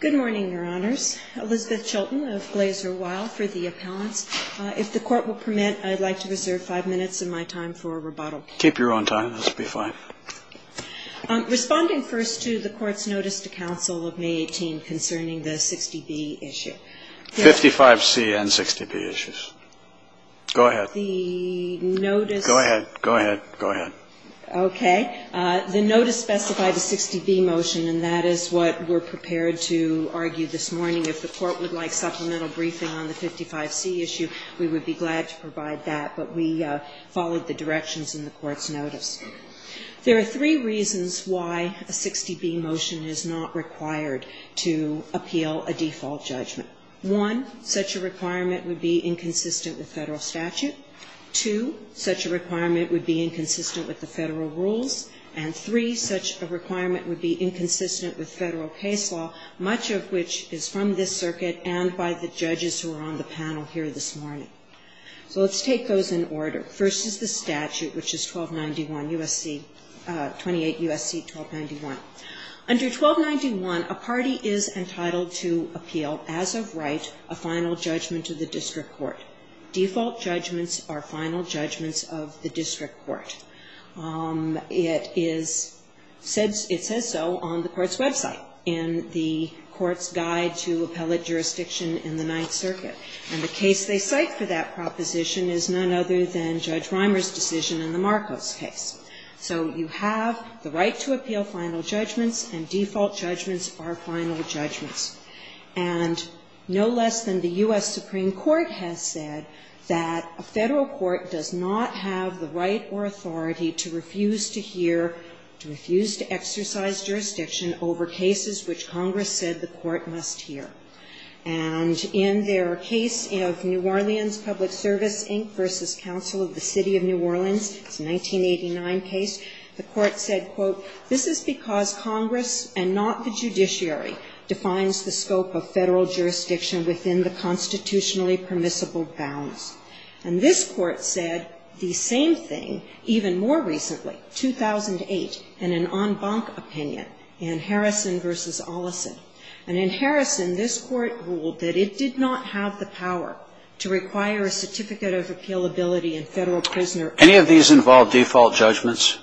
Good morning, Your Honors. Elizabeth Chilton of Glaser Weill for the appellants. If the Court will permit, I'd like to reserve five minutes of my time for rebuttal. Keep your own time. That's fine. Responding first to the Court's notice to counsel of May 18 concerning the 60B issue. 55C and 60B issues. Go ahead. Go ahead. Go ahead. Go ahead. Okay. The notice specified a 60B motion, and that is what we're prepared to argue this morning. If the Court would like supplemental briefing on the 55C issue, we would be glad to provide that. But we followed the directions in the Court's notice. There are three reasons why a 60B motion is not required to appeal a default judgment. One, such a requirement would be inconsistent with Federal statute. Two, such a requirement would be inconsistent with the Federal rules. And three, such a requirement would be inconsistent with Federal case law, much of which is from this circuit and by the judges who are on the panel here this morning. So let's take those in order. First is the statute, which is 1291 U.S.C. 28 U.S.C. 1291. Under 1291, a party is entitled to appeal as of right a final judgment to the district court. Default judgments are final judgments of the district court. It is said so on the Court's website in the Court's Guide to Appellate Jurisdiction in the Ninth Circuit. And the case they cite for that proposition is none other than Judge Reimer's decision in the Marcos case. So you have the right to appeal final judgments, and default judgments are final judgments. And no less than the U.S. Supreme Court has said that a Federal court does not have the right or authority to refuse to hear, to refuse to exercise jurisdiction over cases which Congress said the court must hear. And in their case of New Orleans Public Service, Inc. v. Council of the City of New Orleans, it's a 1989 case, the Court said, quote, This is because Congress, and not the judiciary, defines the scope of Federal jurisdiction within the constitutionally permissible bounds. And this Court said the same thing even more recently, 2008, in an en banc opinion, in Harrison v. Olesen. And in Harrison, this Court ruled that it did not have the power to require a certificate of appealability in Federal prisoner. Any of these involve default judgments?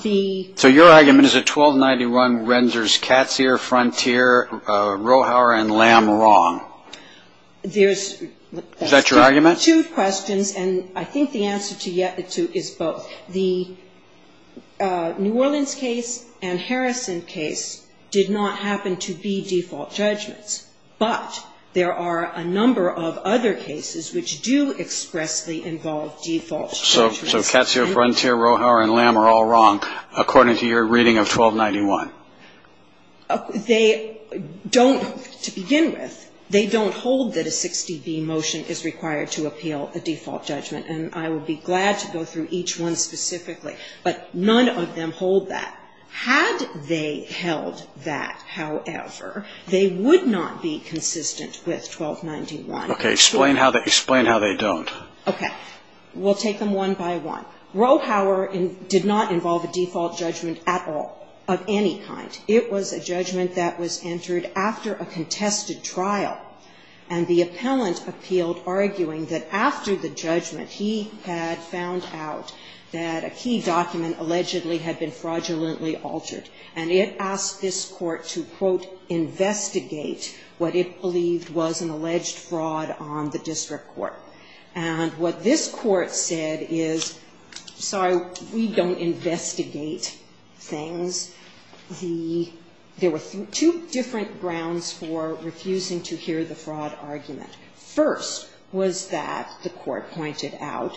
So your argument is that 1291 renders Catseer, Frontier, Rohauer, and Lamb wrong? Is that your argument? There's two questions, and I think the answer to yet the two is both. The New Orleans case and Harrison case did not happen to be default judgments, but there are a number of other cases which do expressly involve default judgments. So Catseer, Frontier, Rohauer, and Lamb are all wrong according to your reading of 1291? They don't, to begin with, they don't hold that a 60B motion is required to appeal a default judgment. And I would be glad to go through each one specifically. But none of them hold that. Had they held that, however, they would not be consistent with 1291. Explain how they don't. Okay. We'll take them one by one. Rohauer did not involve a default judgment at all of any kind. It was a judgment that was entered after a contested trial, and the appellant appealed arguing that after the judgment he had found out that a key document allegedly had been fraudulently altered. And it asked this Court to, quote, what it believed was an alleged fraud on the district court. And what this Court said is, sorry, we don't investigate things. There were two different grounds for refusing to hear the fraud argument. First was that, the Court pointed out,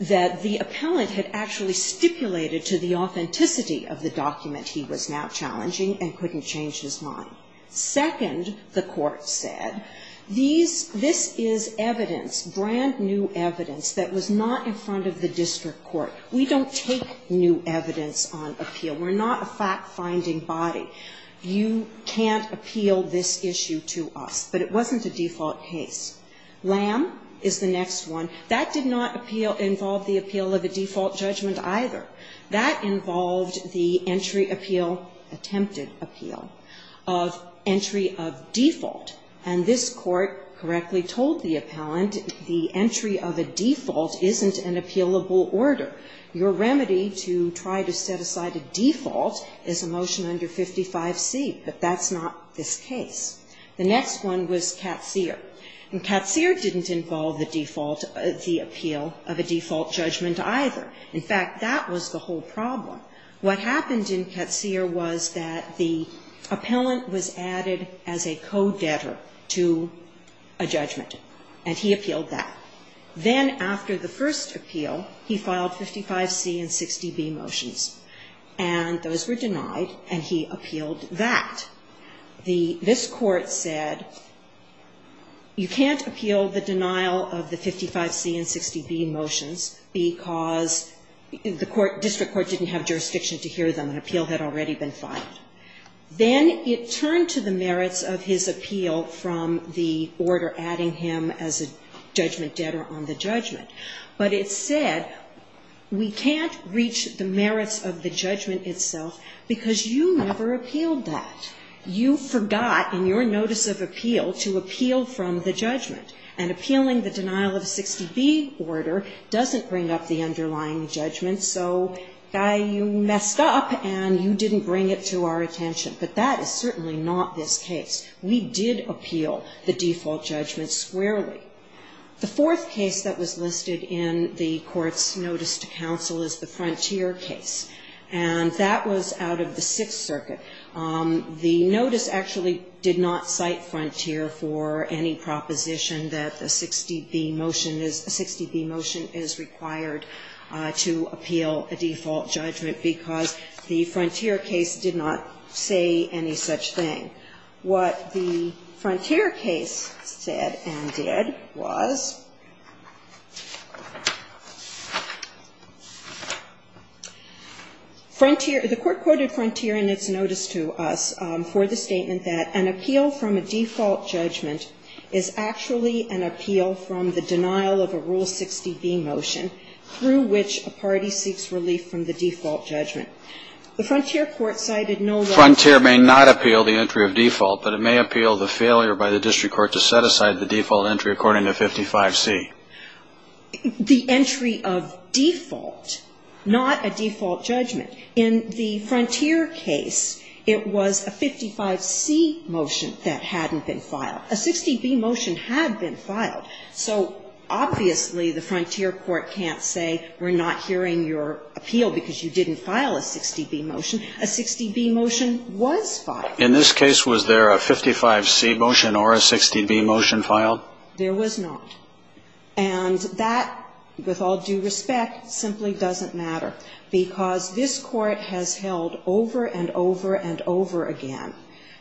that the appellant had actually stipulated to the authenticity of the document he was now challenging and couldn't change his mind. Second, the Court said, this is evidence, brand new evidence, that was not in front of the district court. We don't take new evidence on appeal. We're not a fact-finding body. You can't appeal this issue to us. But it wasn't a default case. Lamb is the next one. That did not involve the appeal of a default judgment either. That involved the entry appeal, attempted appeal. Of entry of default. And this Court correctly told the appellant, the entry of a default isn't an appealable order. Your remedy to try to set aside a default is a motion under 55C. But that's not this case. The next one was Catseer. And Catseer didn't involve the default, the appeal of a default judgment either. In fact, that was the whole problem. What happened in Catseer was that the appellant was added as a co-debtor to a judgment. And he appealed that. Then after the first appeal, he filed 55C and 60B motions. And those were denied. And he appealed that. This Court said, you can't appeal the denial of the 55C and 60B motions because the district court didn't have jurisdiction to hear them. An appeal had already been filed. Then it turned to the merits of his appeal from the order adding him as a judgment debtor on the judgment. But it said, we can't reach the merits of the judgment itself because you never appealed that. You forgot in your notice of appeal to appeal from the judgment. And appealing the denial of 60B order doesn't bring up the underlying judgment. So, guy, you messed up and you didn't bring it to our attention. But that is certainly not this case. We did appeal the default judgment squarely. The fourth case that was listed in the Court's notice to counsel is the Frontier case. And that was out of the Sixth Circuit. The notice actually did not cite Frontier for any proposition that the 60B motion is, a 60B motion is required to appeal a default judgment because the Frontier case did not say any such thing. What the Frontier case said and did was Frontier, the Court quoted Frontier in its notice to us for the statement that an appeal from a default judgment is actually an appeal from the denial of a Rule 60B motion through which a party seeks relief from the default judgment. The Frontier court cited no law. Frontier may not appeal the entry of default, but it may appeal the failure by the district court to set aside the default entry according to 55C. The entry of default, not a default judgment. In the Frontier case, it was a 55C motion that hadn't been filed. A 60B motion had been filed. So obviously the Frontier court can't say we're not hearing your appeal because you didn't file a 60B motion. A 60B motion was filed. In this case, was there a 55C motion or a 60B motion filed? There was not. And that, with all due respect, simply doesn't matter. Because this Court has held over and over and over again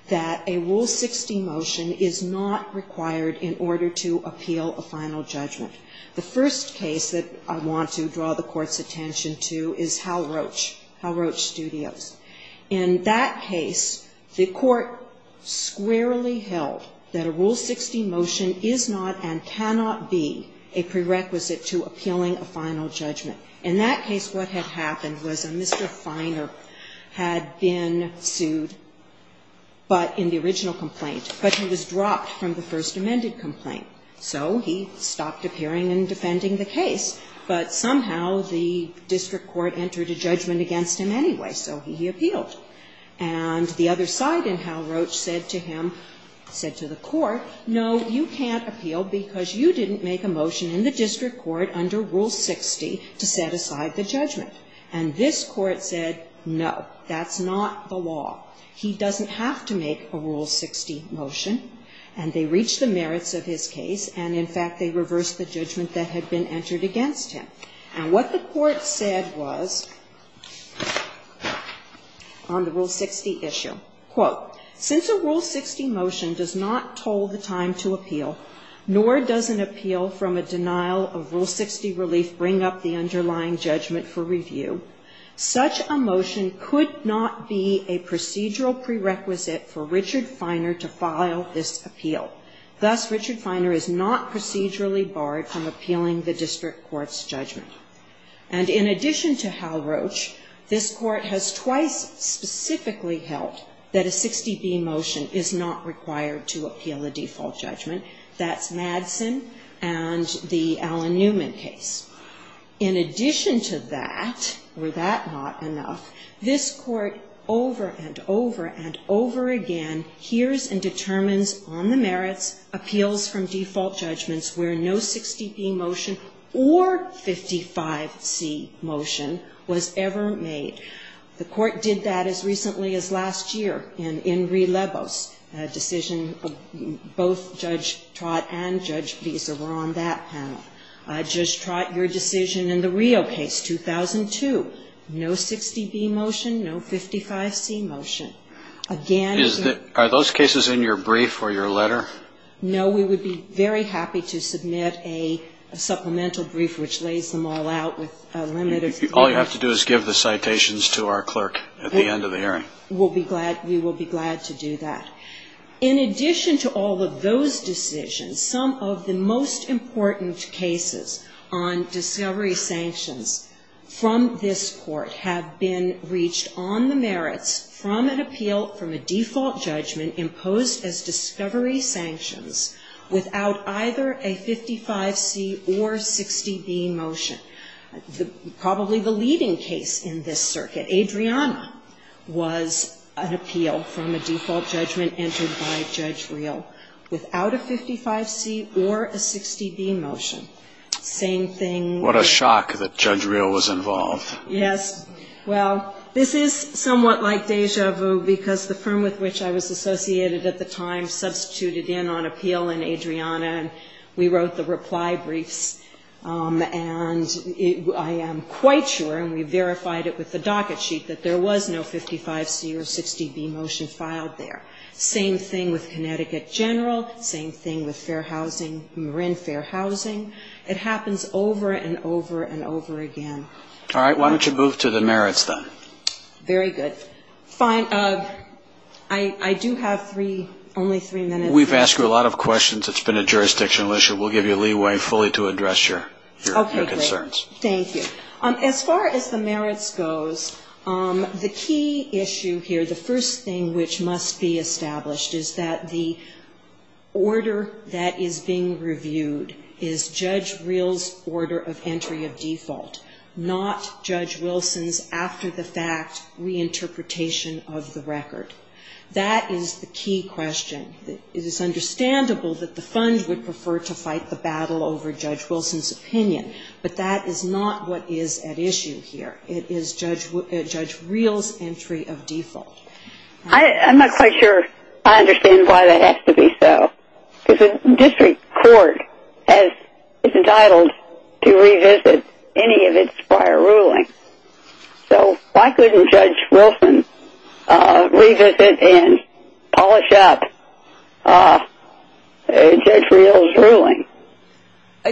that a Rule 60 motion is not required in order to appeal a final judgment. The first case that I want to draw the Court's attention to is Hal Roach, Hal Roach Studios. In that case, the Court squarely held that a Rule 60 motion is not and cannot be a prerequisite to appealing a final judgment. In that case, what had happened was a Mr. Finer had been sued, but in the original complaint, but he was dropped from the first amended complaint. So he stopped appearing and defending the case. But somehow the district court entered a judgment against him anyway, so he appealed. And the other side in Hal Roach said to him, said to the Court, no, you can't appeal because you didn't make a motion in the district court under Rule 60 to set aside the judgment. And this Court said, no, that's not the law. He doesn't have to make a Rule 60 motion. And they reached the merits of his case, and, in fact, they reversed the judgment that had been entered against him. And what the Court said was on the Rule 60 issue, quote, Since a Rule 60 motion does not toll the time to appeal, nor does an appeal from a denial of Rule 60 relief bring up the underlying judgment for review, such a motion could not be a procedural prerequisite for Richard Finer to file this appeal. Thus, Richard Finer is not procedurally barred from appealing the district court's judgment. And in addition to Hal Roach, this Court has twice specifically held that a 60p motion is not required to appeal a default judgment. That's Madsen and the Alan Newman case. In addition to that, were that not enough, this Court over and over and over again hears and determines on the merits, appeals from default judgments where no 60p motion or 55c motion was ever made. The Court did that as recently as last year in Enri Lebo's decision. Both Judge Trott and Judge Visa were on that panel. Judge Trott, your decision in the Rio case, 2002, no 60b motion, no 55c motion. Again the ---- Are those cases in your brief or your letter? No. We would be very happy to submit a supplemental brief which lays them all out with limited ---- All you have to do is give the citations to our clerk at the end of the hearing. We'll be glad. We will be glad to do that. In addition to all of those decisions, some of the most important cases on discovery sanctions from this Court have been reached on the merits from an appeal from a default judgment imposed as discovery sanctions without either a 55c or 60b motion. Probably the leading case in this circuit, Adriana, was an appeal from a default judgment entered by Judge Rio without a 55c or a 60b motion. Same thing ---- What a shock that Judge Rio was involved. Yes. Well, this is somewhat like deja vu, because the firm with which I was associated at the time substituted in on appeal in Adriana, and we wrote the reply briefs. And I am quite sure, and we verified it with the docket sheet, that there was no 55c or 60b motion filed there. Same thing with Connecticut General. Same thing with fair housing, Marin Fair Housing. It happens over and over and over again. All right. Why don't you move to the merits, then? Very good. Fine. I do have three, only three minutes. We've asked you a lot of questions. It's been a jurisdictional issue. We'll give you leeway fully to address your concerns. Okay, great. Thank you. As far as the merits goes, the key issue here, the first thing which must be established, is that the order that is being reviewed is Judge Rio's order of entry of default, not Judge Wilson's after-the-fact reinterpretation of the record. That is the key question. It is understandable that the fund would prefer to fight the battle over Judge Wilson's opinion, but that is not what is at issue here. It is Judge Rio's entry of default. I'm not quite sure I understand why that has to be so. Because the district court is entitled to revisit any of its prior rulings. So why couldn't Judge Wilson revisit and polish up Judge Rio's ruling?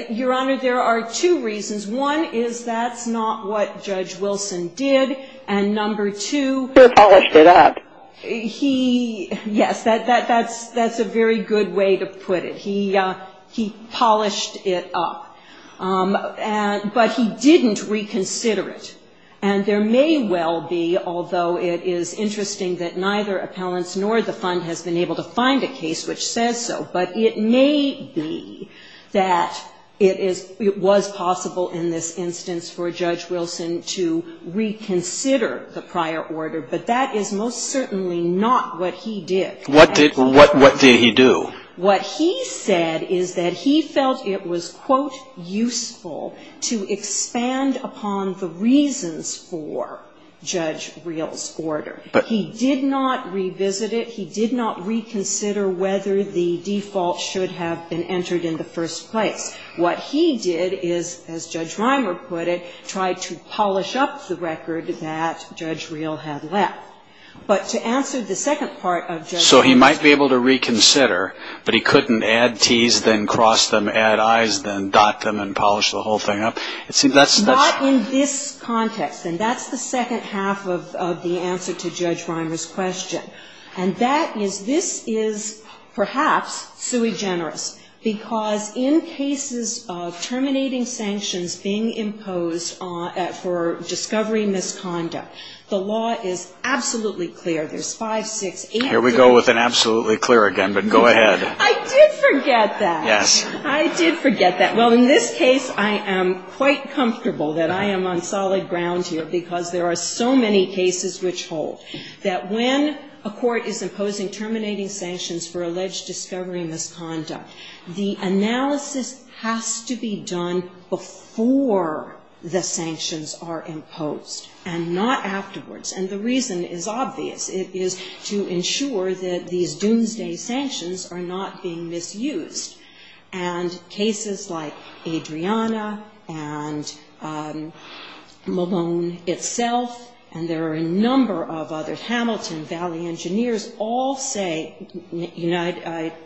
Your Honor, there are two reasons. One is that's not what Judge Wilson did. And number two — He polished it up. Yes, that's a very good way to put it. He polished it up. But he didn't reconsider it. And there may well be, although it is interesting that neither appellants nor the fund has been able to find a case which says so, but it may be that it was possible in this instance for Judge Wilson to reconsider the prior order. But that is most certainly not what he did. What did he do? What he said is that he felt it was, quote, useful to expand upon the reasons for Judge Rio's order. He did not revisit it. He did not reconsider whether the default should have been entered in the first place. What he did is, as Judge Reimer put it, try to polish up the record that Judge Rio had left. But to answer the second part of Judge Wilson's question — So he might be able to reconsider, but he couldn't add Ts, then cross them, add Is, then dot them and polish the whole thing up? It seems that's — Not in this context. And that's the second half of the answer to Judge Reimer's question. And that is this is perhaps sui generis, because in cases of terminating sanctions being imposed for discovery misconduct, the law is absolutely clear. There's five, six, eight — Here we go with an absolutely clear again. But go ahead. I did forget that. Yes. I did forget that. Well, in this case, I am quite comfortable that I am on solid ground here, because there are so many cases which hold that when a court is imposing terminating sanctions for alleged discovery misconduct, the analysis has to be done before the sanctions are imposed and not afterwards. And the reason is obvious. It is to ensure that these doomsday sanctions are not being misused. And cases like Adriana and Malone itself, and there are a number of other cases, Hamilton, Valley Engineers all say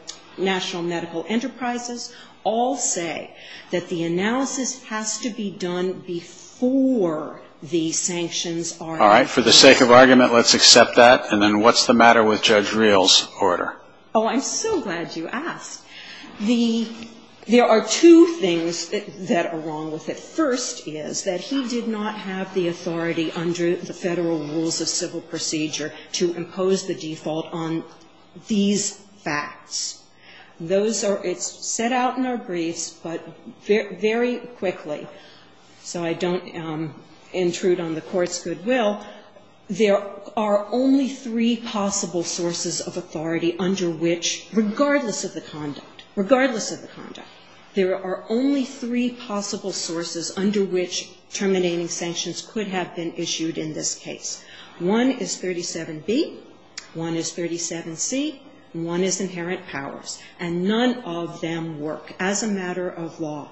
— National Medical Enterprises all say that the analysis has to be done before the sanctions are imposed. All right. For the sake of argument, let's accept that. And then what's the matter with Judge Reil's order? Oh, I'm so glad you asked. The — there are two things that are wrong with it. The first is that he did not have the authority under the Federal Rules of Civil Procedure to impose the default on these facts. Those are — it's set out in our briefs, but very quickly, so I don't intrude on the Court's goodwill, there are only three possible sources of authority under which, regardless of the conduct, regardless of the conduct, there are only three possible sources under which terminating sanctions could have been issued in this case. One is 37B. One is 37C. One is inherent powers. And none of them work as a matter of law.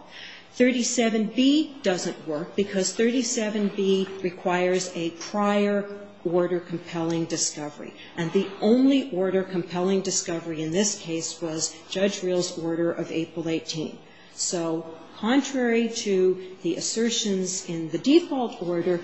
37B doesn't work because 37B requires a prior order compelling discovery. And the only order compelling discovery in this case was Judge Reil's order of April 18. So contrary to the assertions in the default order,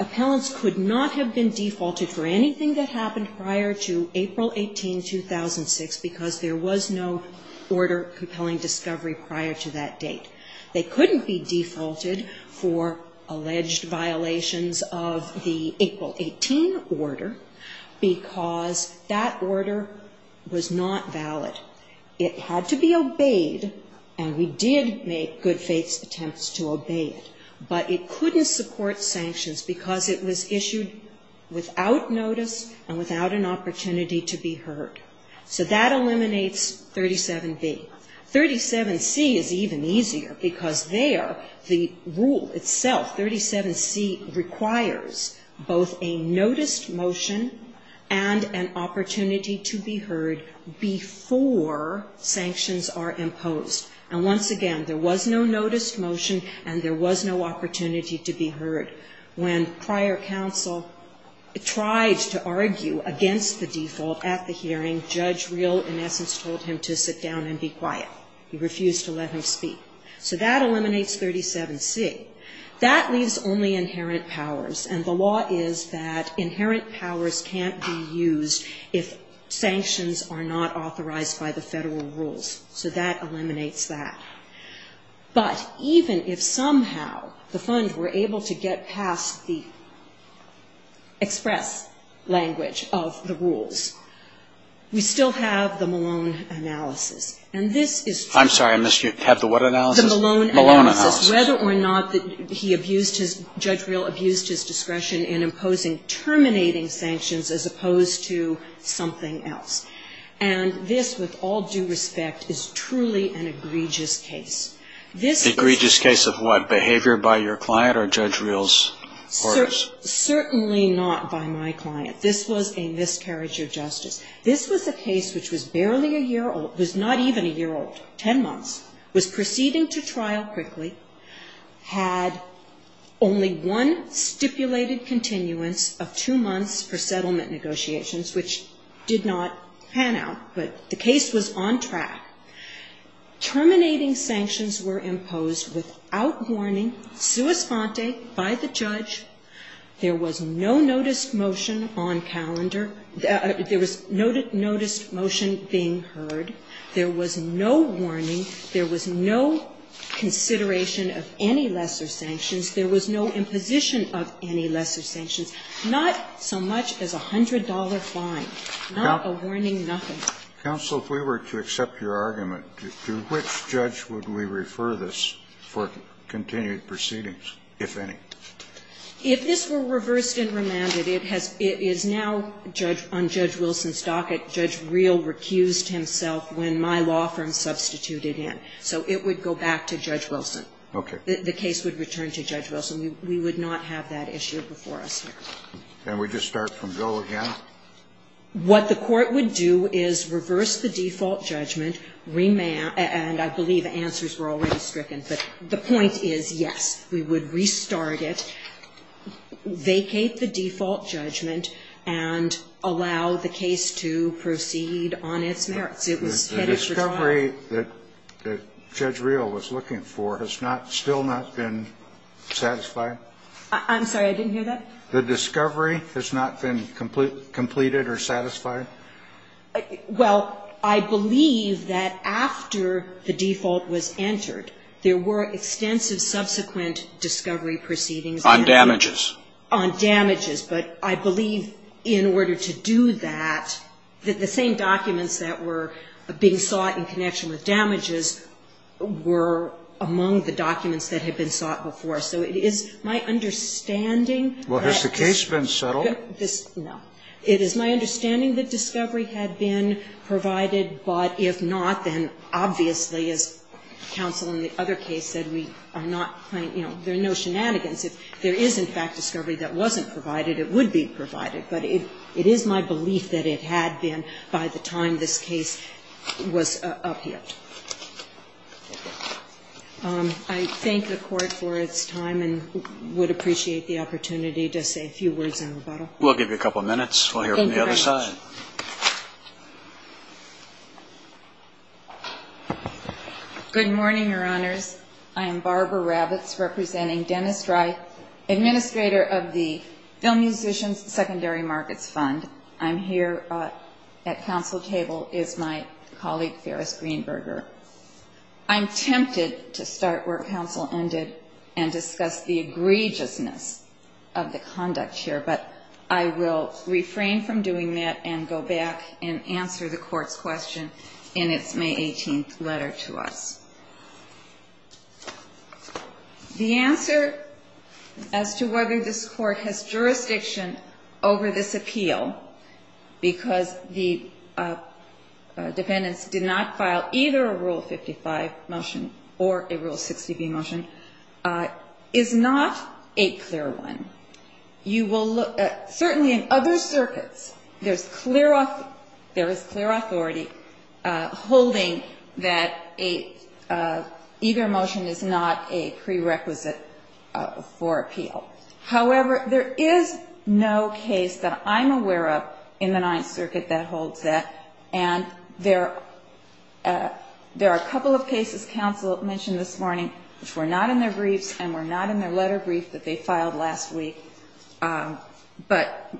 appellants could not have been defaulted for anything that happened prior to April 18, 2006, because there was no order compelling discovery prior to that date. They couldn't be defaulted for alleged violations of the April 18 order because that order was not valid. It had to be obeyed, and we did make good faith attempts to obey it, but it couldn't support sanctions because it was issued without notice and without an opportunity to be heard. So that eliminates 37B. 37C is even easier because there, the rule itself, 37C, requires both a noticed motion and an opportunity to be heard before sanctions are imposed. And once again, there was no noticed motion and there was no opportunity to be heard. When prior counsel tried to argue against the default at the hearing, Judge Reil in essence told him to sit down and be quiet. He refused to let him speak. So that eliminates 37C. That leaves only inherent powers. And the law is that inherent powers can't be used if sanctions are not authorized by the Federal rules. So that eliminates that. But even if somehow the Fund were able to get past the express language of the rules, we still have the Malone analysis. And this is true. I'm sorry. You have the what analysis? The Malone analysis. Malone analysis. Whether or not he abused his, Judge Reil abused his discretion in imposing terminating sanctions as opposed to something else. And this, with all due respect, is truly an egregious case. Egregious case of what? Behavior by your client or Judge Reil's orders? Certainly not by my client. This was a miscarriage of justice. This was a case which was barely a year old, was not even a year old, 10 months, was proceeding to trial quickly, had only one stipulated continuance of two months for settlement negotiations, which did not pan out. But the case was on track. Terminating sanctions were imposed without warning, sua sponte, by the judge. There was no noticed motion on calendar. There was no noticed motion being heard. There was no warning. There was no consideration of any lesser sanctions. There was no imposition of any lesser sanctions. Not so much as a hundred-dollar fine. Not a warning, nothing. Counsel, if we were to accept your argument, to which judge would we refer this for continued proceedings, if any? If this were reversed and remanded, it is now on Judge Wilson's docket. Judge Reel recused himself when my law firm substituted him. So it would go back to Judge Wilson. Okay. The case would return to Judge Wilson. We would not have that issue before us here. Can we just start from Joe again? What the Court would do is reverse the default judgment, remand, and I believe answers were already stricken, but the point is, yes, we would restart it, vacate the default judgment, and allow the case to proceed on its merits. It was headed for trial. The discovery that Judge Reel was looking for has not, still not been satisfied? I'm sorry. I didn't hear that. The discovery has not been completed or satisfied? Well, I believe that after the default was entered, there were extensive subsequent discovery proceedings. On damages. On damages. But I believe in order to do that, that the same documents that were being sought in connection with damages were among the documents that had been sought before. So it is my understanding that this. Well, has the case been settled? No. It is my understanding that discovery had been provided, but if not, then obviously, as counsel in the other case said, we are not playing, you know, there are no shenanigans. If there is, in fact, discovery that wasn't provided, it would be provided. But it is my belief that it had been by the time this case was upheld. I thank the Court for its time and would appreciate the opportunity to say a few words in rebuttal. We'll give you a couple of minutes. We'll hear from the other side. Thank you very much. Good morning, Your Honors. I am Barbara Rabbits, representing Dennis Dry, administrator of the Film Musicians Secondary Markets Fund. I'm here at counsel table is my colleague, Ferris Greenberger. I'm tempted to start where counsel ended and discuss the egregiousness of the conduct here, but I will refrain from doing that and go back and answer the Court's question in its May 18th letter to us. The answer as to whether this Court has jurisdiction over this appeal, because the dependents did not file either a Rule 55 motion or a Rule 60b motion, is not a clear one. Certainly in other circuits, there is clear authority holding that either motion is not a prerequisite for appeal. However, there is no case that I'm aware of in the Ninth Circuit that holds that. And there are a couple of cases counsel mentioned this morning which were not in their briefs that they filed last week, but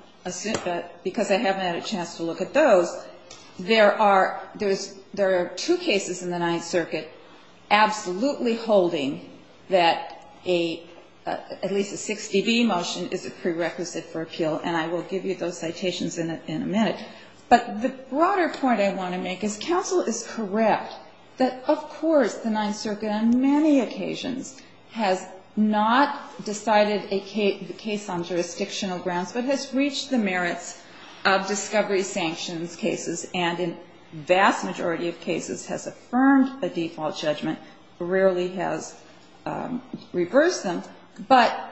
because I haven't had a chance to look at those, there are two cases in the Ninth Circuit absolutely holding that at least a 60b motion is a prerequisite for appeal, and I will give you those citations in a minute. But the broader point I want to make is counsel is correct that, of course, the Ninth Circuit on many occasions has not decided a case on jurisdictional grounds, but has reached the merits of discovery sanctions cases and in vast majority of cases has affirmed a default judgment, rarely has reversed them, but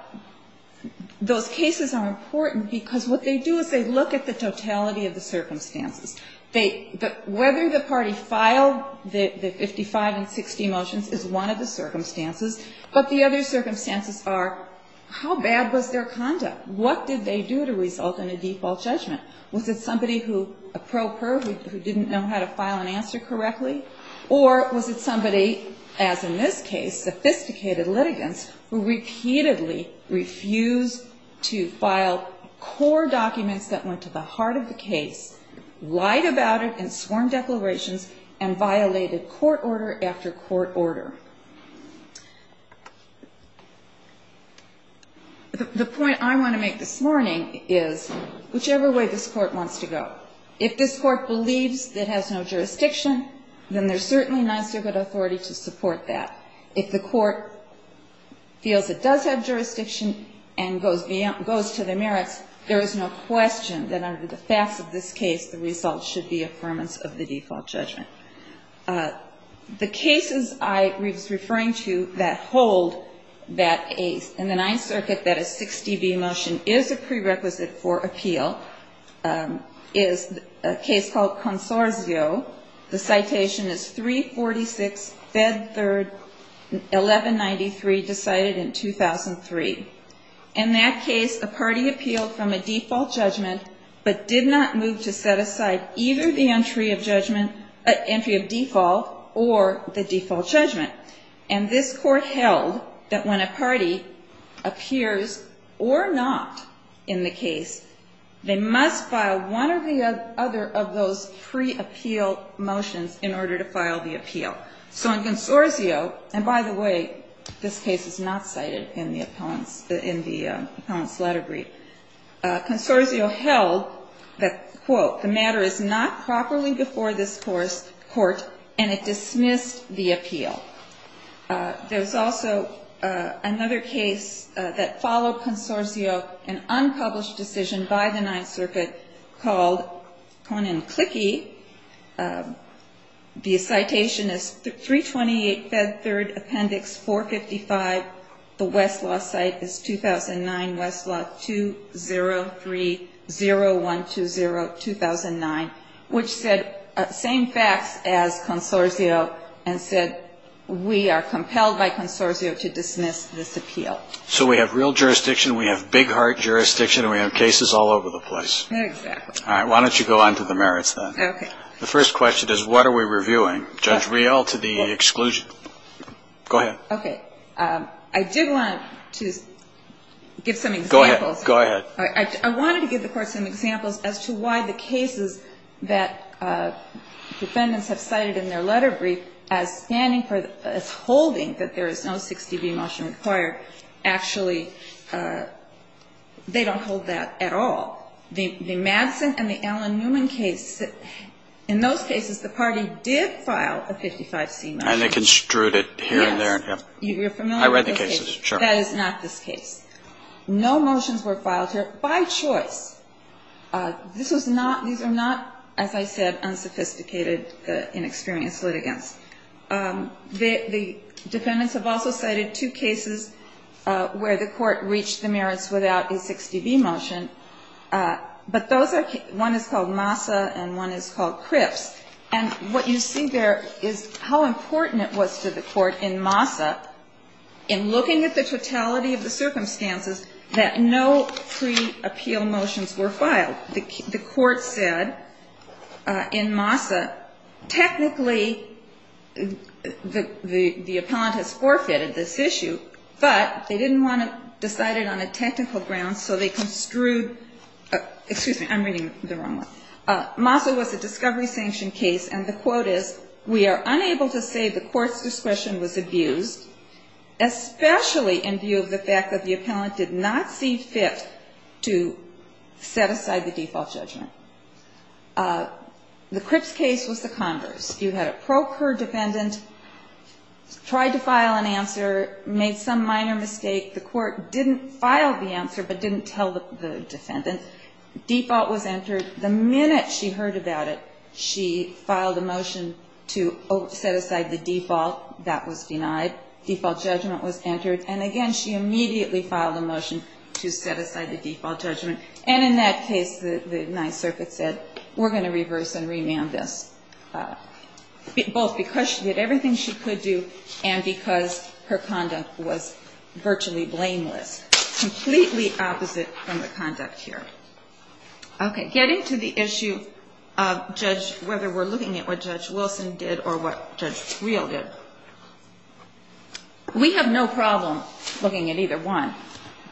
those cases are important because what they do is they look at the totality of the circumstances. Whether the party filed the 55 and 60 motions is one of the circumstances, but the other circumstances are how bad was their conduct? What did they do to result in a default judgment? Was it somebody who, a pro per, who didn't know how to file an answer correctly? Or was it somebody, as in this case, sophisticated litigants, who repeatedly refused to file core documents that went to the heart of the case, what was the reason for the default judgment? Or was it somebody who lied about it and sworn declarations and violated court order after court order? The point I want to make this morning is, whichever way this Court wants to go, if this Court believes it has no jurisdiction, then there's certainly Ninth Circuit authority to support that. If the Court feels it does have jurisdiction, then the default should be affirmance of the default judgment. The cases I was referring to that hold that in the Ninth Circuit that a 60B motion is a prerequisite for appeal is a case called Consorzio. The citation is 346, Fed 3, 1193, decided in 2003. In that case, a party appealed from a default judgment. And this Court held that when a party appears or not in the case, they must file one or the other of those pre-appeal motions in order to file the appeal. So in Consorzio, and by the way, this case is not cited in the Appellant's letter brief, Consorzio held that, quote, the matter is not properly before this Court, and it dismissed the appeal. There's also another case that followed Consorzio, an unpublished decision by the Ninth Circuit, called Conan Clicky. The citation is 328, Fed 3, Appendix 455. The Westlaw site is 2009, Westlaw 2030120. There's also another case that followed Consorzio, 2009, which said the same facts as Consorzio and said we are compelled by Consorzio to dismiss this appeal. So we have real jurisdiction, we have big heart jurisdiction, and we have cases all over the place. Exactly. All right. Why don't you go on to the merits, then? Okay. The first question is, what are we reviewing? Judge Riehl, to the exclusion. Go ahead. Okay. I did want to give some examples. Go ahead. I wanted to give the Court some examples as to why the cases that defendants have cited in their letter brief as holding that there is no 6db motion required, actually they don't hold that at all. The Madsen and the Allen Newman case, in those cases the party did file a 55c motion. And they construed it here and there. Yes. You're familiar with those cases. I read the cases, sure. That is not this case. No motions were filed here by choice. These are not, as I said, unsophisticated, inexperienced litigants. The defendants have also cited two cases where the Court reached the merits without a 6db motion. But those are, one is called Massa and one is called Cripps. And what you see there is how important it was to the Court in Massa, in looking at the totality of the circumstances, that no pre-appeal motions were filed. The Court said in Massa, technically the appellant has forfeited this issue, but they didn't want to decide it on a technical ground, so they construed, excuse me, I'm reading the wrong one. Massa was a discovery sanction case, and the quote is, we are unable to say the Court's discretion was abused, especially in view of the fact that the appellant did not see fit to set aside the default judgment. The Cripps case was the converse. You had a procured defendant, tried to file an answer, made some minor mistake. The Court didn't file the answer, but didn't tell the defendant. Default was entered. The minute she heard about it, she filed a motion to set aside the default. That was denied. Default judgment was entered. And again, she immediately filed a motion to set aside the default judgment. And in that case, the Ninth Circuit said, we're going to reverse and remand this. Both because she did everything she could do, and because her conduct was virtually blameless. Completely opposite from the conduct here. Okay, getting to the issue of whether we're looking at what Judge Wilson did, or what Judge Real did. We have no problem looking at either one,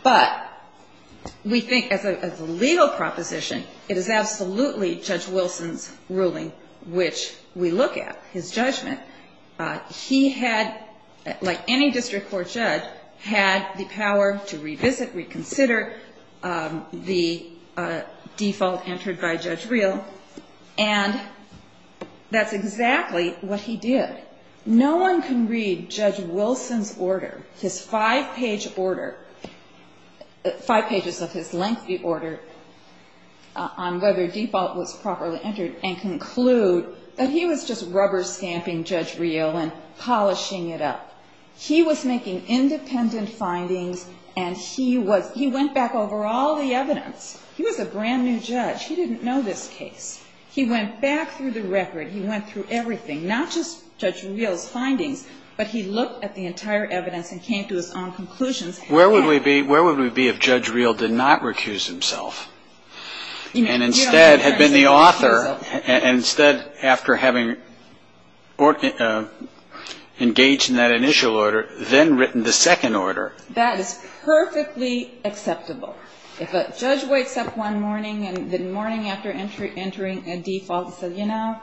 but we think as a legal proposition, it is absolutely Judge Wilson's ruling which we look at. His judgment. He had, like any district court judge, had the power to revisit, reconsider the default entered by Judge Real. And that's exactly what he did. No one can read Judge Wilson's order. His five-page order. Five pages of his lengthy order. On whether default was properly entered. And conclude that he was just rubber stamping Judge Real and polishing it up. He was making independent findings, and he went back over all the evidence. He was a brand new judge. He didn't know this case. He went back through the record. He went through everything. Not just Judge Real's findings, but he looked at the entire evidence and came to his own conclusions. Where would we be if Judge Real did not recuse himself? And instead had been the author, and instead after having engaged in that initial order, then written the second order? That is perfectly acceptable. If a judge wakes up one morning, and the morning after entering a default says, you know,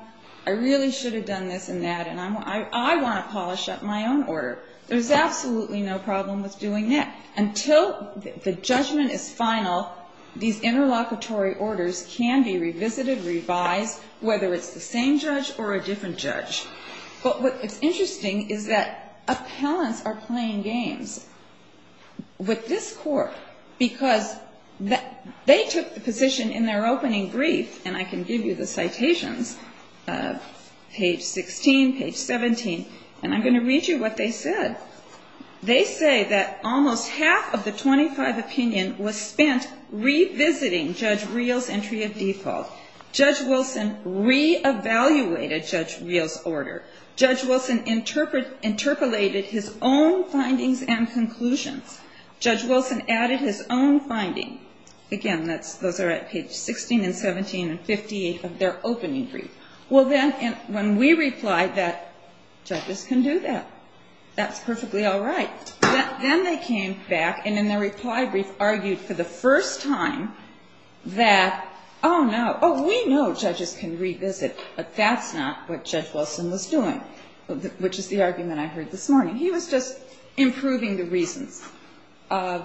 I really should have done this and that, and I want to polish up my own order. There's absolutely no problem with doing that. Until the judgment is final, these interlocutory orders can be revisited, revised, whether it's the same judge or a different judge. But what's interesting is that appellants are playing games with this court. Because they took the position in their opening brief, and I can give you the citations, page 16, page 17, and I'm going to read you what they said. They say that almost half of the 25 opinion was spent revisiting Judge Real's entry of default. Judge Wilson re-evaluated Judge Real's order. Judge Wilson interpolated his own findings and conclusions. Judge Wilson added his own finding. Again, those are at page 16 and 17 and 58 of their opening brief. Well, then, when we replied that judges can do that, that's perfectly all right. Then they came back and in their reply brief argued for the first time that, oh, no, we know judges can revisit, but that's not what Judge Wilson was doing, which is the argument I heard this morning. He was just improving the reasons. On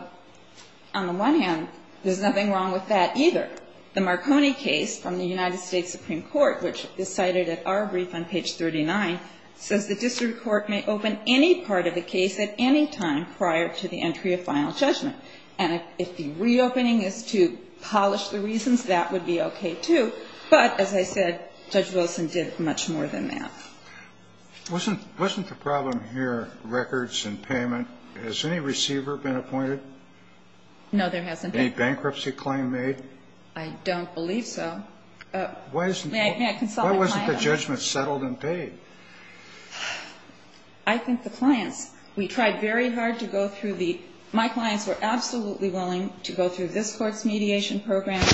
the one hand, there's nothing wrong with that either. The Marconi case from the United States Supreme Court, which is cited at our brief on page 39, says the district court may open any part of the case at any time prior to the entry of final judgment. And if the reopening is to polish the reasons, that would be okay too. But, as I said, Judge Wilson did much more than that. Wasn't the problem here records and payment? Has any receiver been appointed? No, there hasn't been. Any bankruptcy claim made? I don't believe so. May I consult with the client? Why wasn't the judgment settled and paid? I think the clients, we tried very hard to go through the, my clients were absolutely willing to go through this court's mediation program.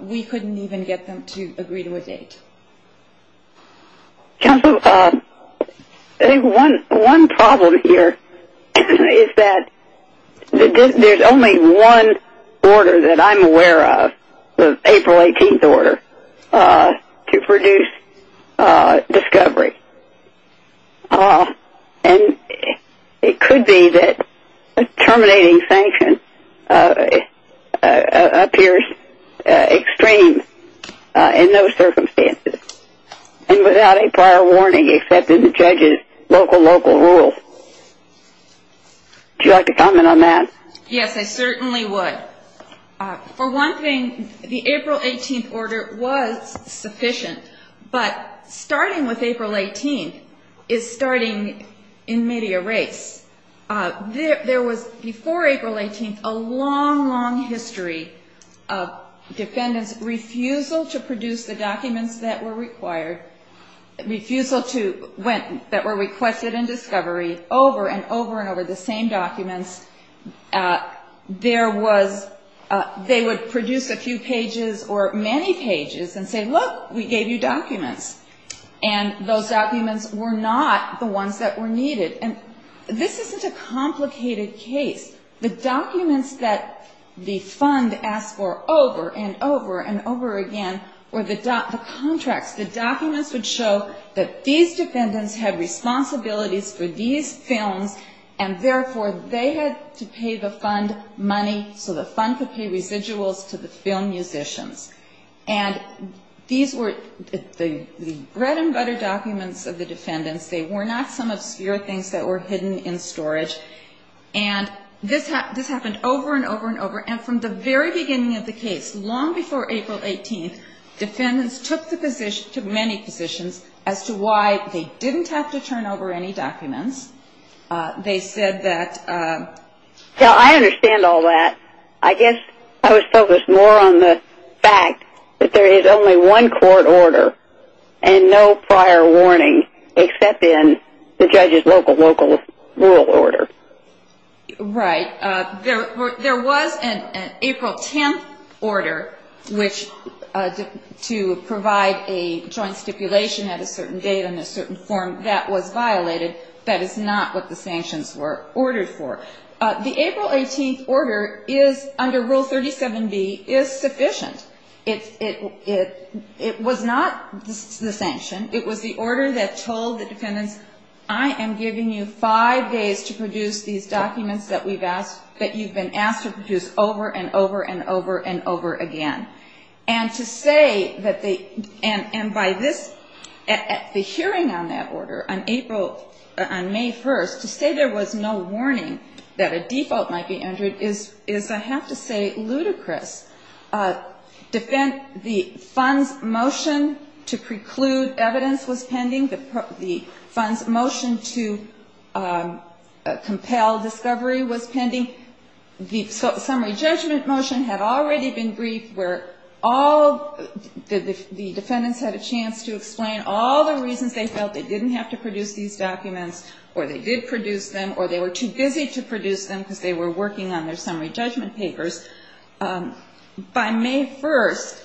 We couldn't even get them to agree to a date. Counsel, I think one problem here is that there's only one order that I'm aware of, the April 18th order, to produce discovery. And it could be that terminating sanction appears extreme in those circumstances and without a prior warning except in the judge's local, local rules. Would you like to comment on that? Yes, I certainly would. For one thing, the April 18th order was sufficient, but starting with April 18th is starting in media race. There was, before April 18th, a long, long history of defendants' refusal to produce the documents that were required, refusal to, that were requested in discovery, over and over and over the same documents. There was, they would produce a few pages or many pages and say, look, we gave you documents. And those documents were not the ones that were needed. And this isn't a complicated case. The documents that the fund asked for over and over and over again were the contracts. The documents would show that these defendants had responsibilities for these films and, therefore, they had to pay the fund money so the fund could pay residuals to the film musicians. And these were the bread and butter documents of the defendants. They were not some obscure things that were hidden in storage. And this happened over and over and over. And from the very beginning of the case, long before April 18th, defendants took the position, took many positions, as to why they didn't have to turn over any documents. They said that- Now, I understand all that. I guess I was focused more on the fact that there is only one court order and no prior warning except in the judge's local, local, rural order. Right. There was an April 10th order which, to provide a joint stipulation at a certain date and a certain form that was violated. That is not what the sanctions were ordered for. The April 18th order is, under Rule 37B, is sufficient. It was not the sanction. It was the order that told the defendants, I am giving you five days to produce these documents that you've been asked to produce over and over and over and over again. And to say that they- And by this- The hearing on that order on April- On May 1st, to say there was no warning that a default might be entered is, I have to say, ludicrous. The fund's motion to preclude evidence was pending. The fund's motion to compel discovery was pending. The summary judgment motion had already been briefed where all the defendants had a chance to explain all the reasons they felt they didn't have to produce these documents or they did produce them or they were too busy to produce them because they were working on their summary judgment papers. By May 1st,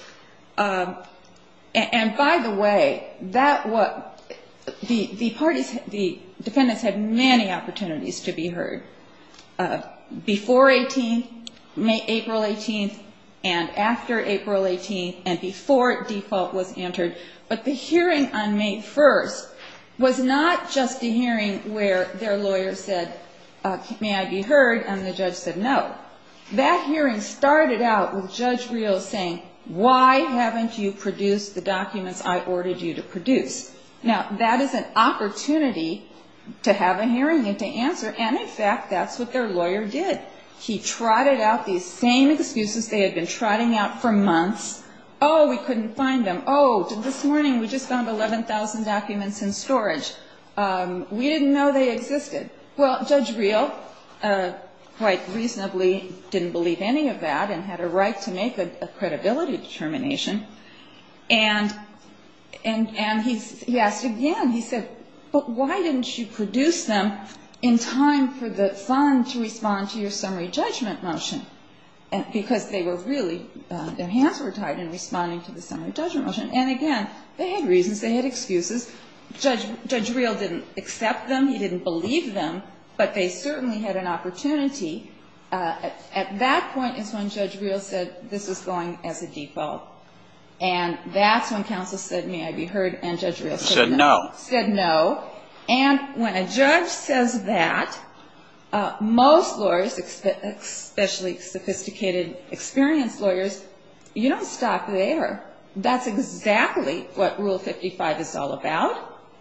and by the way, that was- Before 18th, April 18th, and after April 18th, and before default was entered. But the hearing on May 1st was not just a hearing where their lawyer said, may I be heard, and the judge said no. That hearing started out with Judge Rios saying, why haven't you produced the documents I ordered you to produce? Now, that is an opportunity to have a hearing and to answer, and in fact, that's what their lawyer did. He trotted out these same excuses they had been trotting out for months. Oh, we couldn't find them. Oh, this morning we just found 11,000 documents in storage. We didn't know they existed. Well, Judge Rios quite reasonably didn't believe any of that and had a right to make a credibility determination, and he asked again, he said, but why didn't you produce them in time for the fund to respond to your summary judgment motion? Because they were really, their hands were tied in responding to the summary judgment motion. And again, they had reasons. They had excuses. Judge Rios didn't accept them. He didn't believe them, but they certainly had an opportunity. At that point is when Judge Rios said this is going as a default, and that's when counsel said, may I be heard, and Judge Rios said no. And when a judge says that, most lawyers, especially sophisticated, experienced lawyers, you don't stop there. That's exactly what Rule 55 is all about.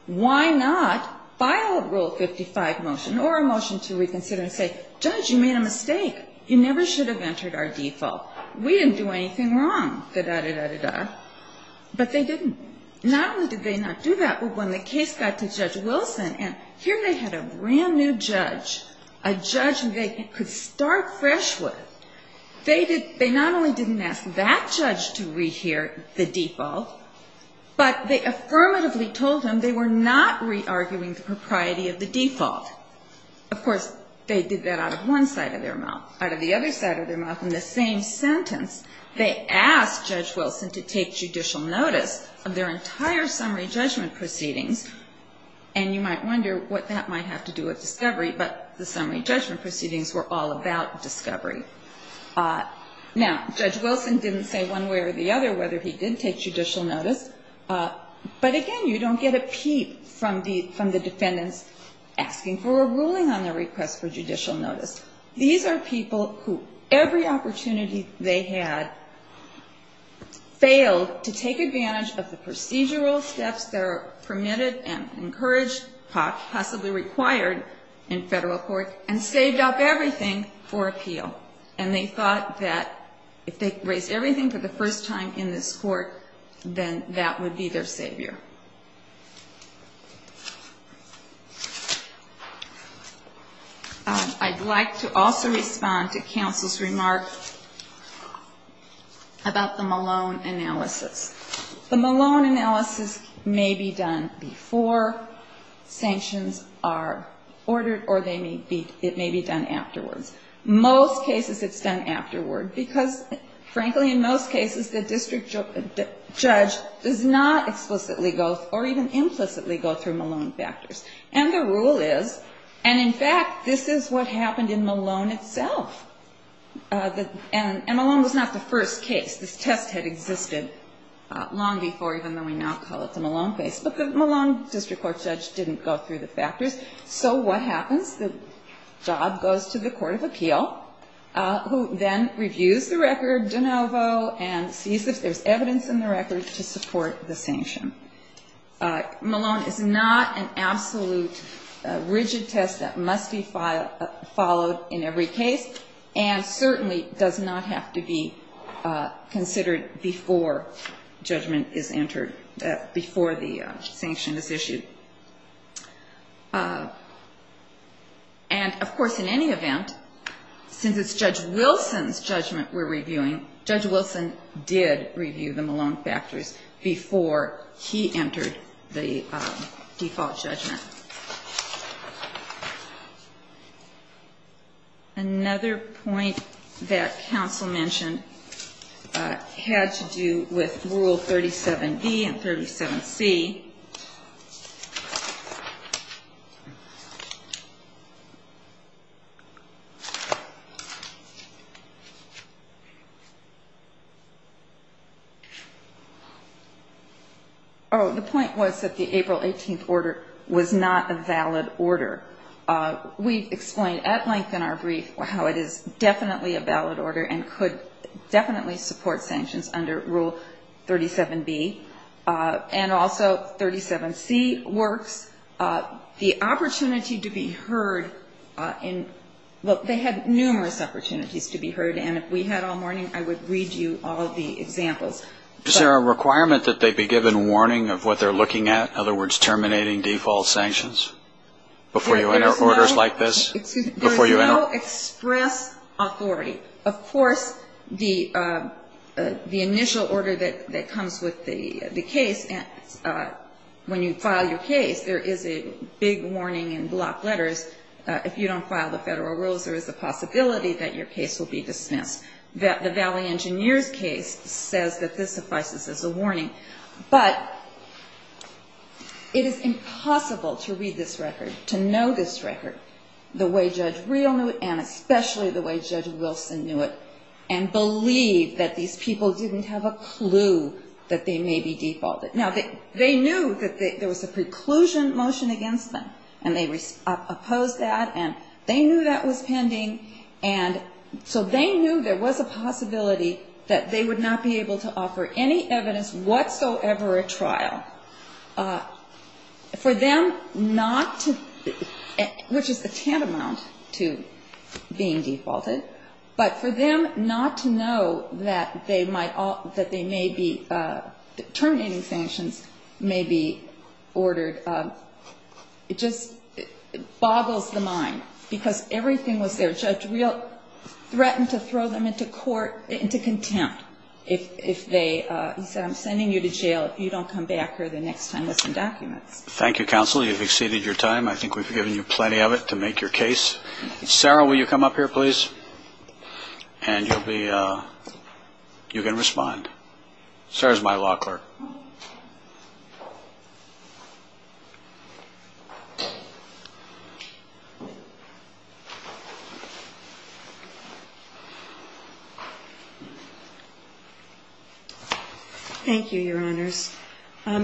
Why not file a Rule 55 motion or a motion to reconsider and say, Judge, you made a mistake. You never should have entered our default. We didn't do anything wrong, da-da-da-da-da-da, but they didn't. Not only did they not do that, but when the case got to Judge Wilson, and here they had a brand new judge, a judge they could start fresh with, they not only didn't ask that judge to rehear the default, but they affirmatively told him they were not re-arguing the propriety of the default. Of course, they did that out of one side of their mouth. Out of the other side of their mouth, in the same sentence, they asked Judge Wilson to take judicial notice of their entire summary judgment proceedings, and you might wonder what that might have to do with discovery, but the summary judgment proceedings were all about discovery. Now, Judge Wilson didn't say one way or the other whether he did take judicial notice, but again, you don't get a peep from the defendants asking for a ruling on their request for judicial notice. These are people who, every opportunity they had, failed to take advantage of the procedural steps that are permitted and encouraged, possibly required in federal court, and saved up everything for appeal, and they thought that if they raised everything for the first time in this court, then that would be their savior. I'd like to also respond to counsel's remark about the Malone analysis. The Malone analysis may be done before sanctions are ordered, or it may be done afterwards. Most cases, it's done afterward, because, frankly, in most cases, the district judge does not explicitly question the Malone factors. And the rule is, and in fact, this is what happened in Malone itself. And Malone was not the first case. This test had existed long before, even though we now call it the Malone case. But the Malone district court judge didn't go through the factors. So what happens? The job goes to the court of appeal, who then reviews the record de novo and sees if there's evidence in the record to support the sanction. Malone is not an absolute rigid test that must be followed in every case, and certainly does not have to be considered before judgment is entered, before the sanction is issued. And, of course, in any event, since it's Judge Wilson's judgment we're he entered the default judgment. Another point that counsel mentioned had to do with Rule 37B and 37C. Oh, the point was that the April 18th order was not a valid order. We explained at length in our brief how it is definitely a valid order and could definitely support sanctions under Rule 37B. And also 37C works. The opportunity to be heard in, well, they had numerous opportunities to be heard. And if we had all morning, I would read you all the examples. Is there a requirement that they be given warning of what they're looking at? In other words, terminating default sanctions before you enter orders like this? There's no express authority. Of course, the initial order that comes with the case, when you file your case, there is a big warning in block letters. If you don't file the federal rules, there is a possibility that your case will be dismissed. The Valley Engineers case says that this suffices as a warning. But it is impossible to read this record, to know this record, the way Judge Real knew it, and especially the way Judge Wilson knew it, and believe that these people didn't have a clue that they may be defaulted. Now, they knew that there was a preclusion motion against them. And they opposed that. And they knew that was pending. And so they knew there was a possibility that they would not be able to offer any evidence whatsoever at trial. For them not to, which is a tantamount to being defaulted, but for them not to know that they may be, terminating sanctions may be ordered, it just boggles the mind. Because everything was there. Judge Real threatened to throw them into contempt. He said, I'm sending you to jail if you don't come back here the next time with some documents. Thank you, Counsel. You've exceeded your time. I think we've given you plenty of it to make your case. Sarah, will you come up here, please? And you can respond. Sarah's my law clerk. Thank you, Your Honors.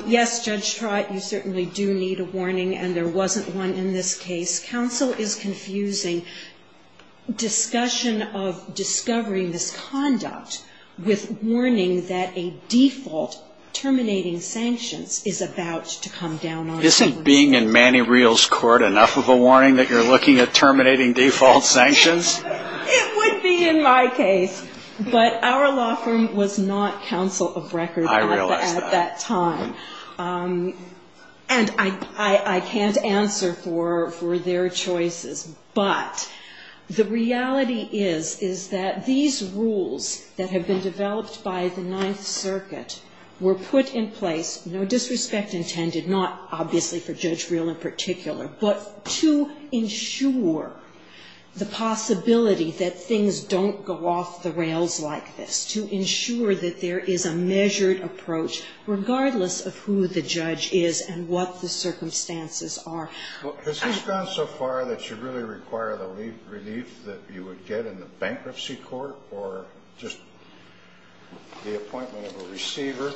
Yes, Judge Trott, you certainly do need a warning, and there wasn't one in this case. Counsel is confusing discussion of discovery misconduct with warning that a default terminating sanctions is about to come down on you. Isn't being in Manny Real's court enough of a warning that you're looking at terminating default sanctions? It would be in my case. But our law firm was not counsel of record at that time. I realize that. And I can't answer for their choices. But the reality is, is that these rules that have been developed by the Ninth Circuit were put in place, no disrespect intended, not obviously for Judge Real in particular, but to ensure the possibility that things don't go off the rails like this, to ensure that there is a measured approach regardless of who the judge is and what the circumstances are. Has this gone so far that you really require the relief that you would get in the bankruptcy court or just the appointment of a receiver?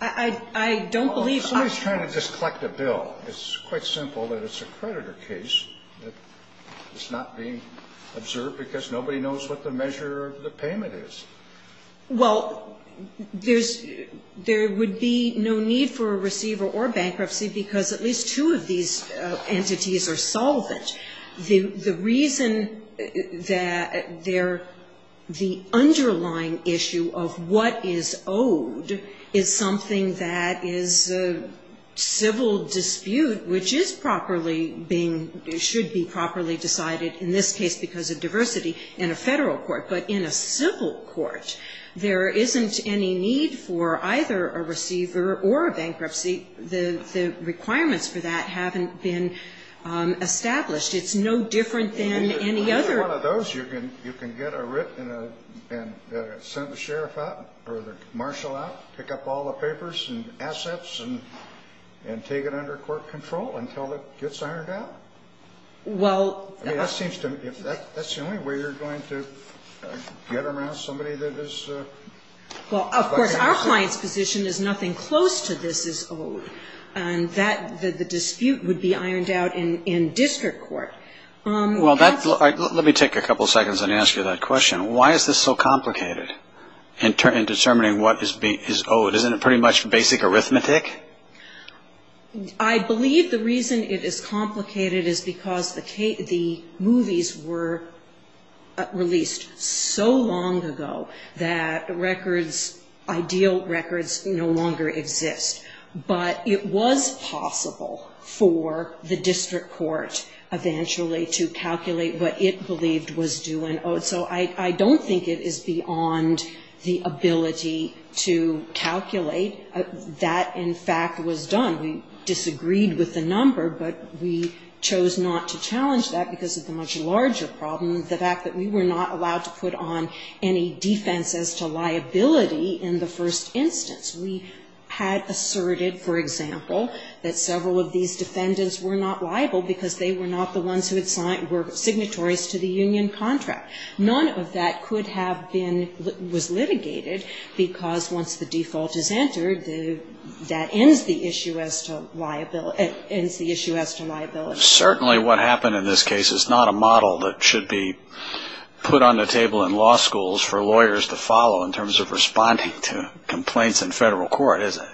I don't believe that. Somebody's trying to just collect a bill. It's quite simple that it's a creditor case. It's not being observed because nobody knows what the measure of the payment is. Well, there would be no need for a receiver or bankruptcy because at least two of these entities are solvent. The reason that the underlying issue of what is owed is something that is a civil dispute, which is properly being, should be properly decided, in this case because of diversity, in a federal court, but in a civil court, there isn't any need for either a receiver or a bankruptcy. The requirements for that haven't been established. It's no different than any other. Either one of those, you can get a writ and send the sheriff out or the marshal out, pick up all the papers and assets and take it under court control until it gets ironed out? I mean, that seems to me, that's the only way you're going to get around somebody that is a bankruptcy. Well, of course, our client's position is nothing close to this is owed, and the dispute would be ironed out in district court. Let me take a couple seconds and answer that question. Why is this so complicated in determining what is owed? Isn't it pretty much basic arithmetic? I believe the reason it is complicated is because the movies were released so long ago that records, ideal records, no longer exist. But it was possible for the district court eventually to calculate what it believed was due and owed. So I don't think it is beyond the ability to calculate that in order to determine what is owed. And that, in fact, was done. We disagreed with the number, but we chose not to challenge that because of the much larger problem, the fact that we were not allowed to put on any defense as to liability in the first instance. We had asserted, for example, that several of these defendants were not liable because they were not the ones who were signatories to the union contract. None of that was litigated because once the default is entered, that ends the issue as to liability. Certainly what happened in this case is not a model that should be put on the table in law schools for lawyers to follow in terms of responding to complaints in federal court, is it?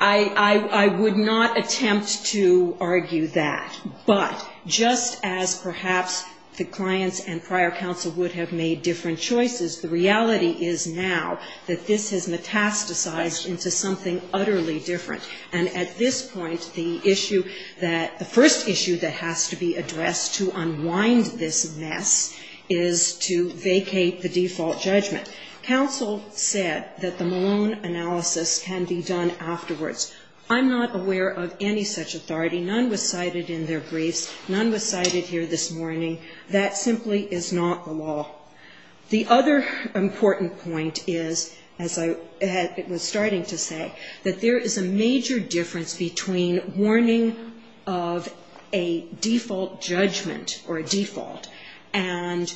I would not attempt to argue that. But just as perhaps the clients and prior counsel would have made different choices, the reality is now that this has metastasized into something utterly different. And at this point, the issue that the first issue that has to be addressed to unwind this mess is to vacate the default judgment. Counsel said that the Malone analysis can be done afterwards. I'm not aware of any such authority. None was cited in their briefs. None was cited here this morning. That simply is not the law. The other important point is, as I was starting to say, that there is a major difference between warning of a default judgment or a default and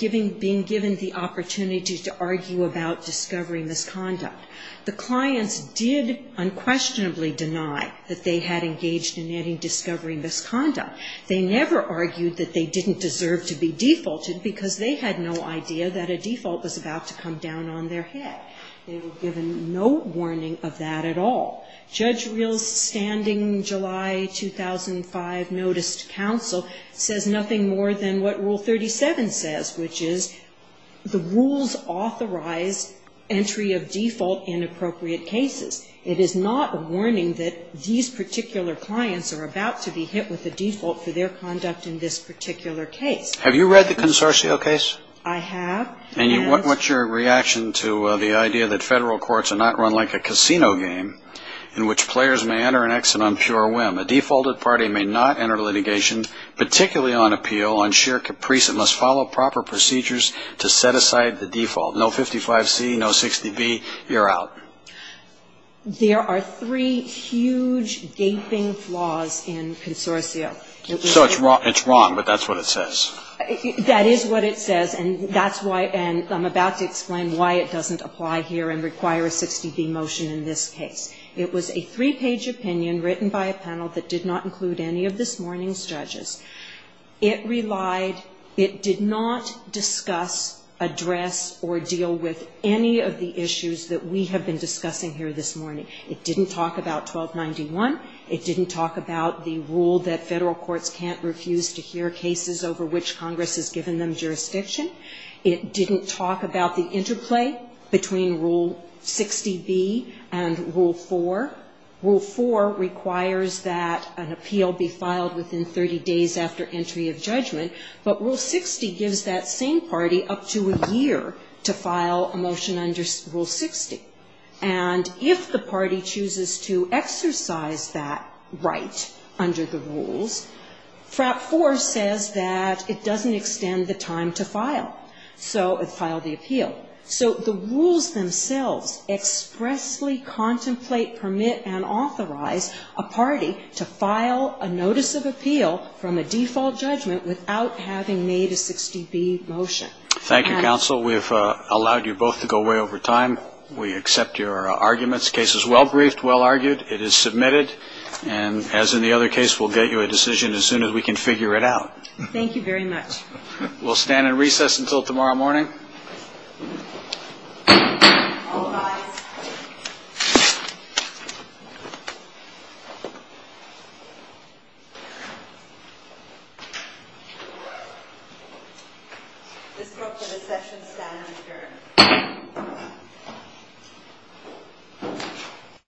being given the opportunity to argue about discovery misconduct. The clients did unquestionably deny that they had engaged in any discovery misconduct. They never argued that they didn't deserve to be defaulted because they had no idea that a default was about to come down on their head. They were given no warning of that at all. Judge Reel's standing July 2005 noticed counsel says nothing more than what Rule 37 says, which is the rules authorize entry of default in appropriate cases. It is not a warning that these particular clients are about to be hit with a default for their conduct in this particular case. Have you read the Consortio case? I have. And what's your reaction to the idea that Federal courts are not run like a casino game in which players may enter and exit on pure whim. A defaulted party may not enter litigation, particularly on appeal, on sheer caprice, and must follow proper procedures to set aside the default. No 55C, no 60B, you're out. There are three huge gaping flaws in Consortio. So it's wrong, but that's what it says. That is what it says, and I'm about to explain why it doesn't apply here and require a 60B motion in this case. It was a three-page opinion written by a panel that did not include any of this morning's judges. It relied, it did not discuss, address, or deal with any of the issues that we have been discussing here this morning. It didn't talk about 1291, it didn't talk about the rule that Federal courts can't refuse to hear cases over which Congress has given them jurisdiction. It didn't talk about the interplay between Rule 60B and Rule 4. Rule 4 requires that an appeal be filed within 30 days after entry of judgment, but Rule 60 gives that same party up to a year to file a motion under Rule 60. And if the party chooses to exercise that right under the rules, FRAP 4 says that it doesn't extend the time to file. So it filed the appeal. So the rules themselves expressly contemplate, permit, and authorize a party to file a notice of appeal from a default judgment without having made a 60B motion. Thank you, Counsel. We've allowed you both to go away over time. We accept your arguments. The case is well briefed, well argued. It is submitted. And as in the other case, we'll get you a decision as soon as we can figure it out. Thank you very much. We'll stand in recess until tomorrow morning. All rise. This group for the session stands adjourned.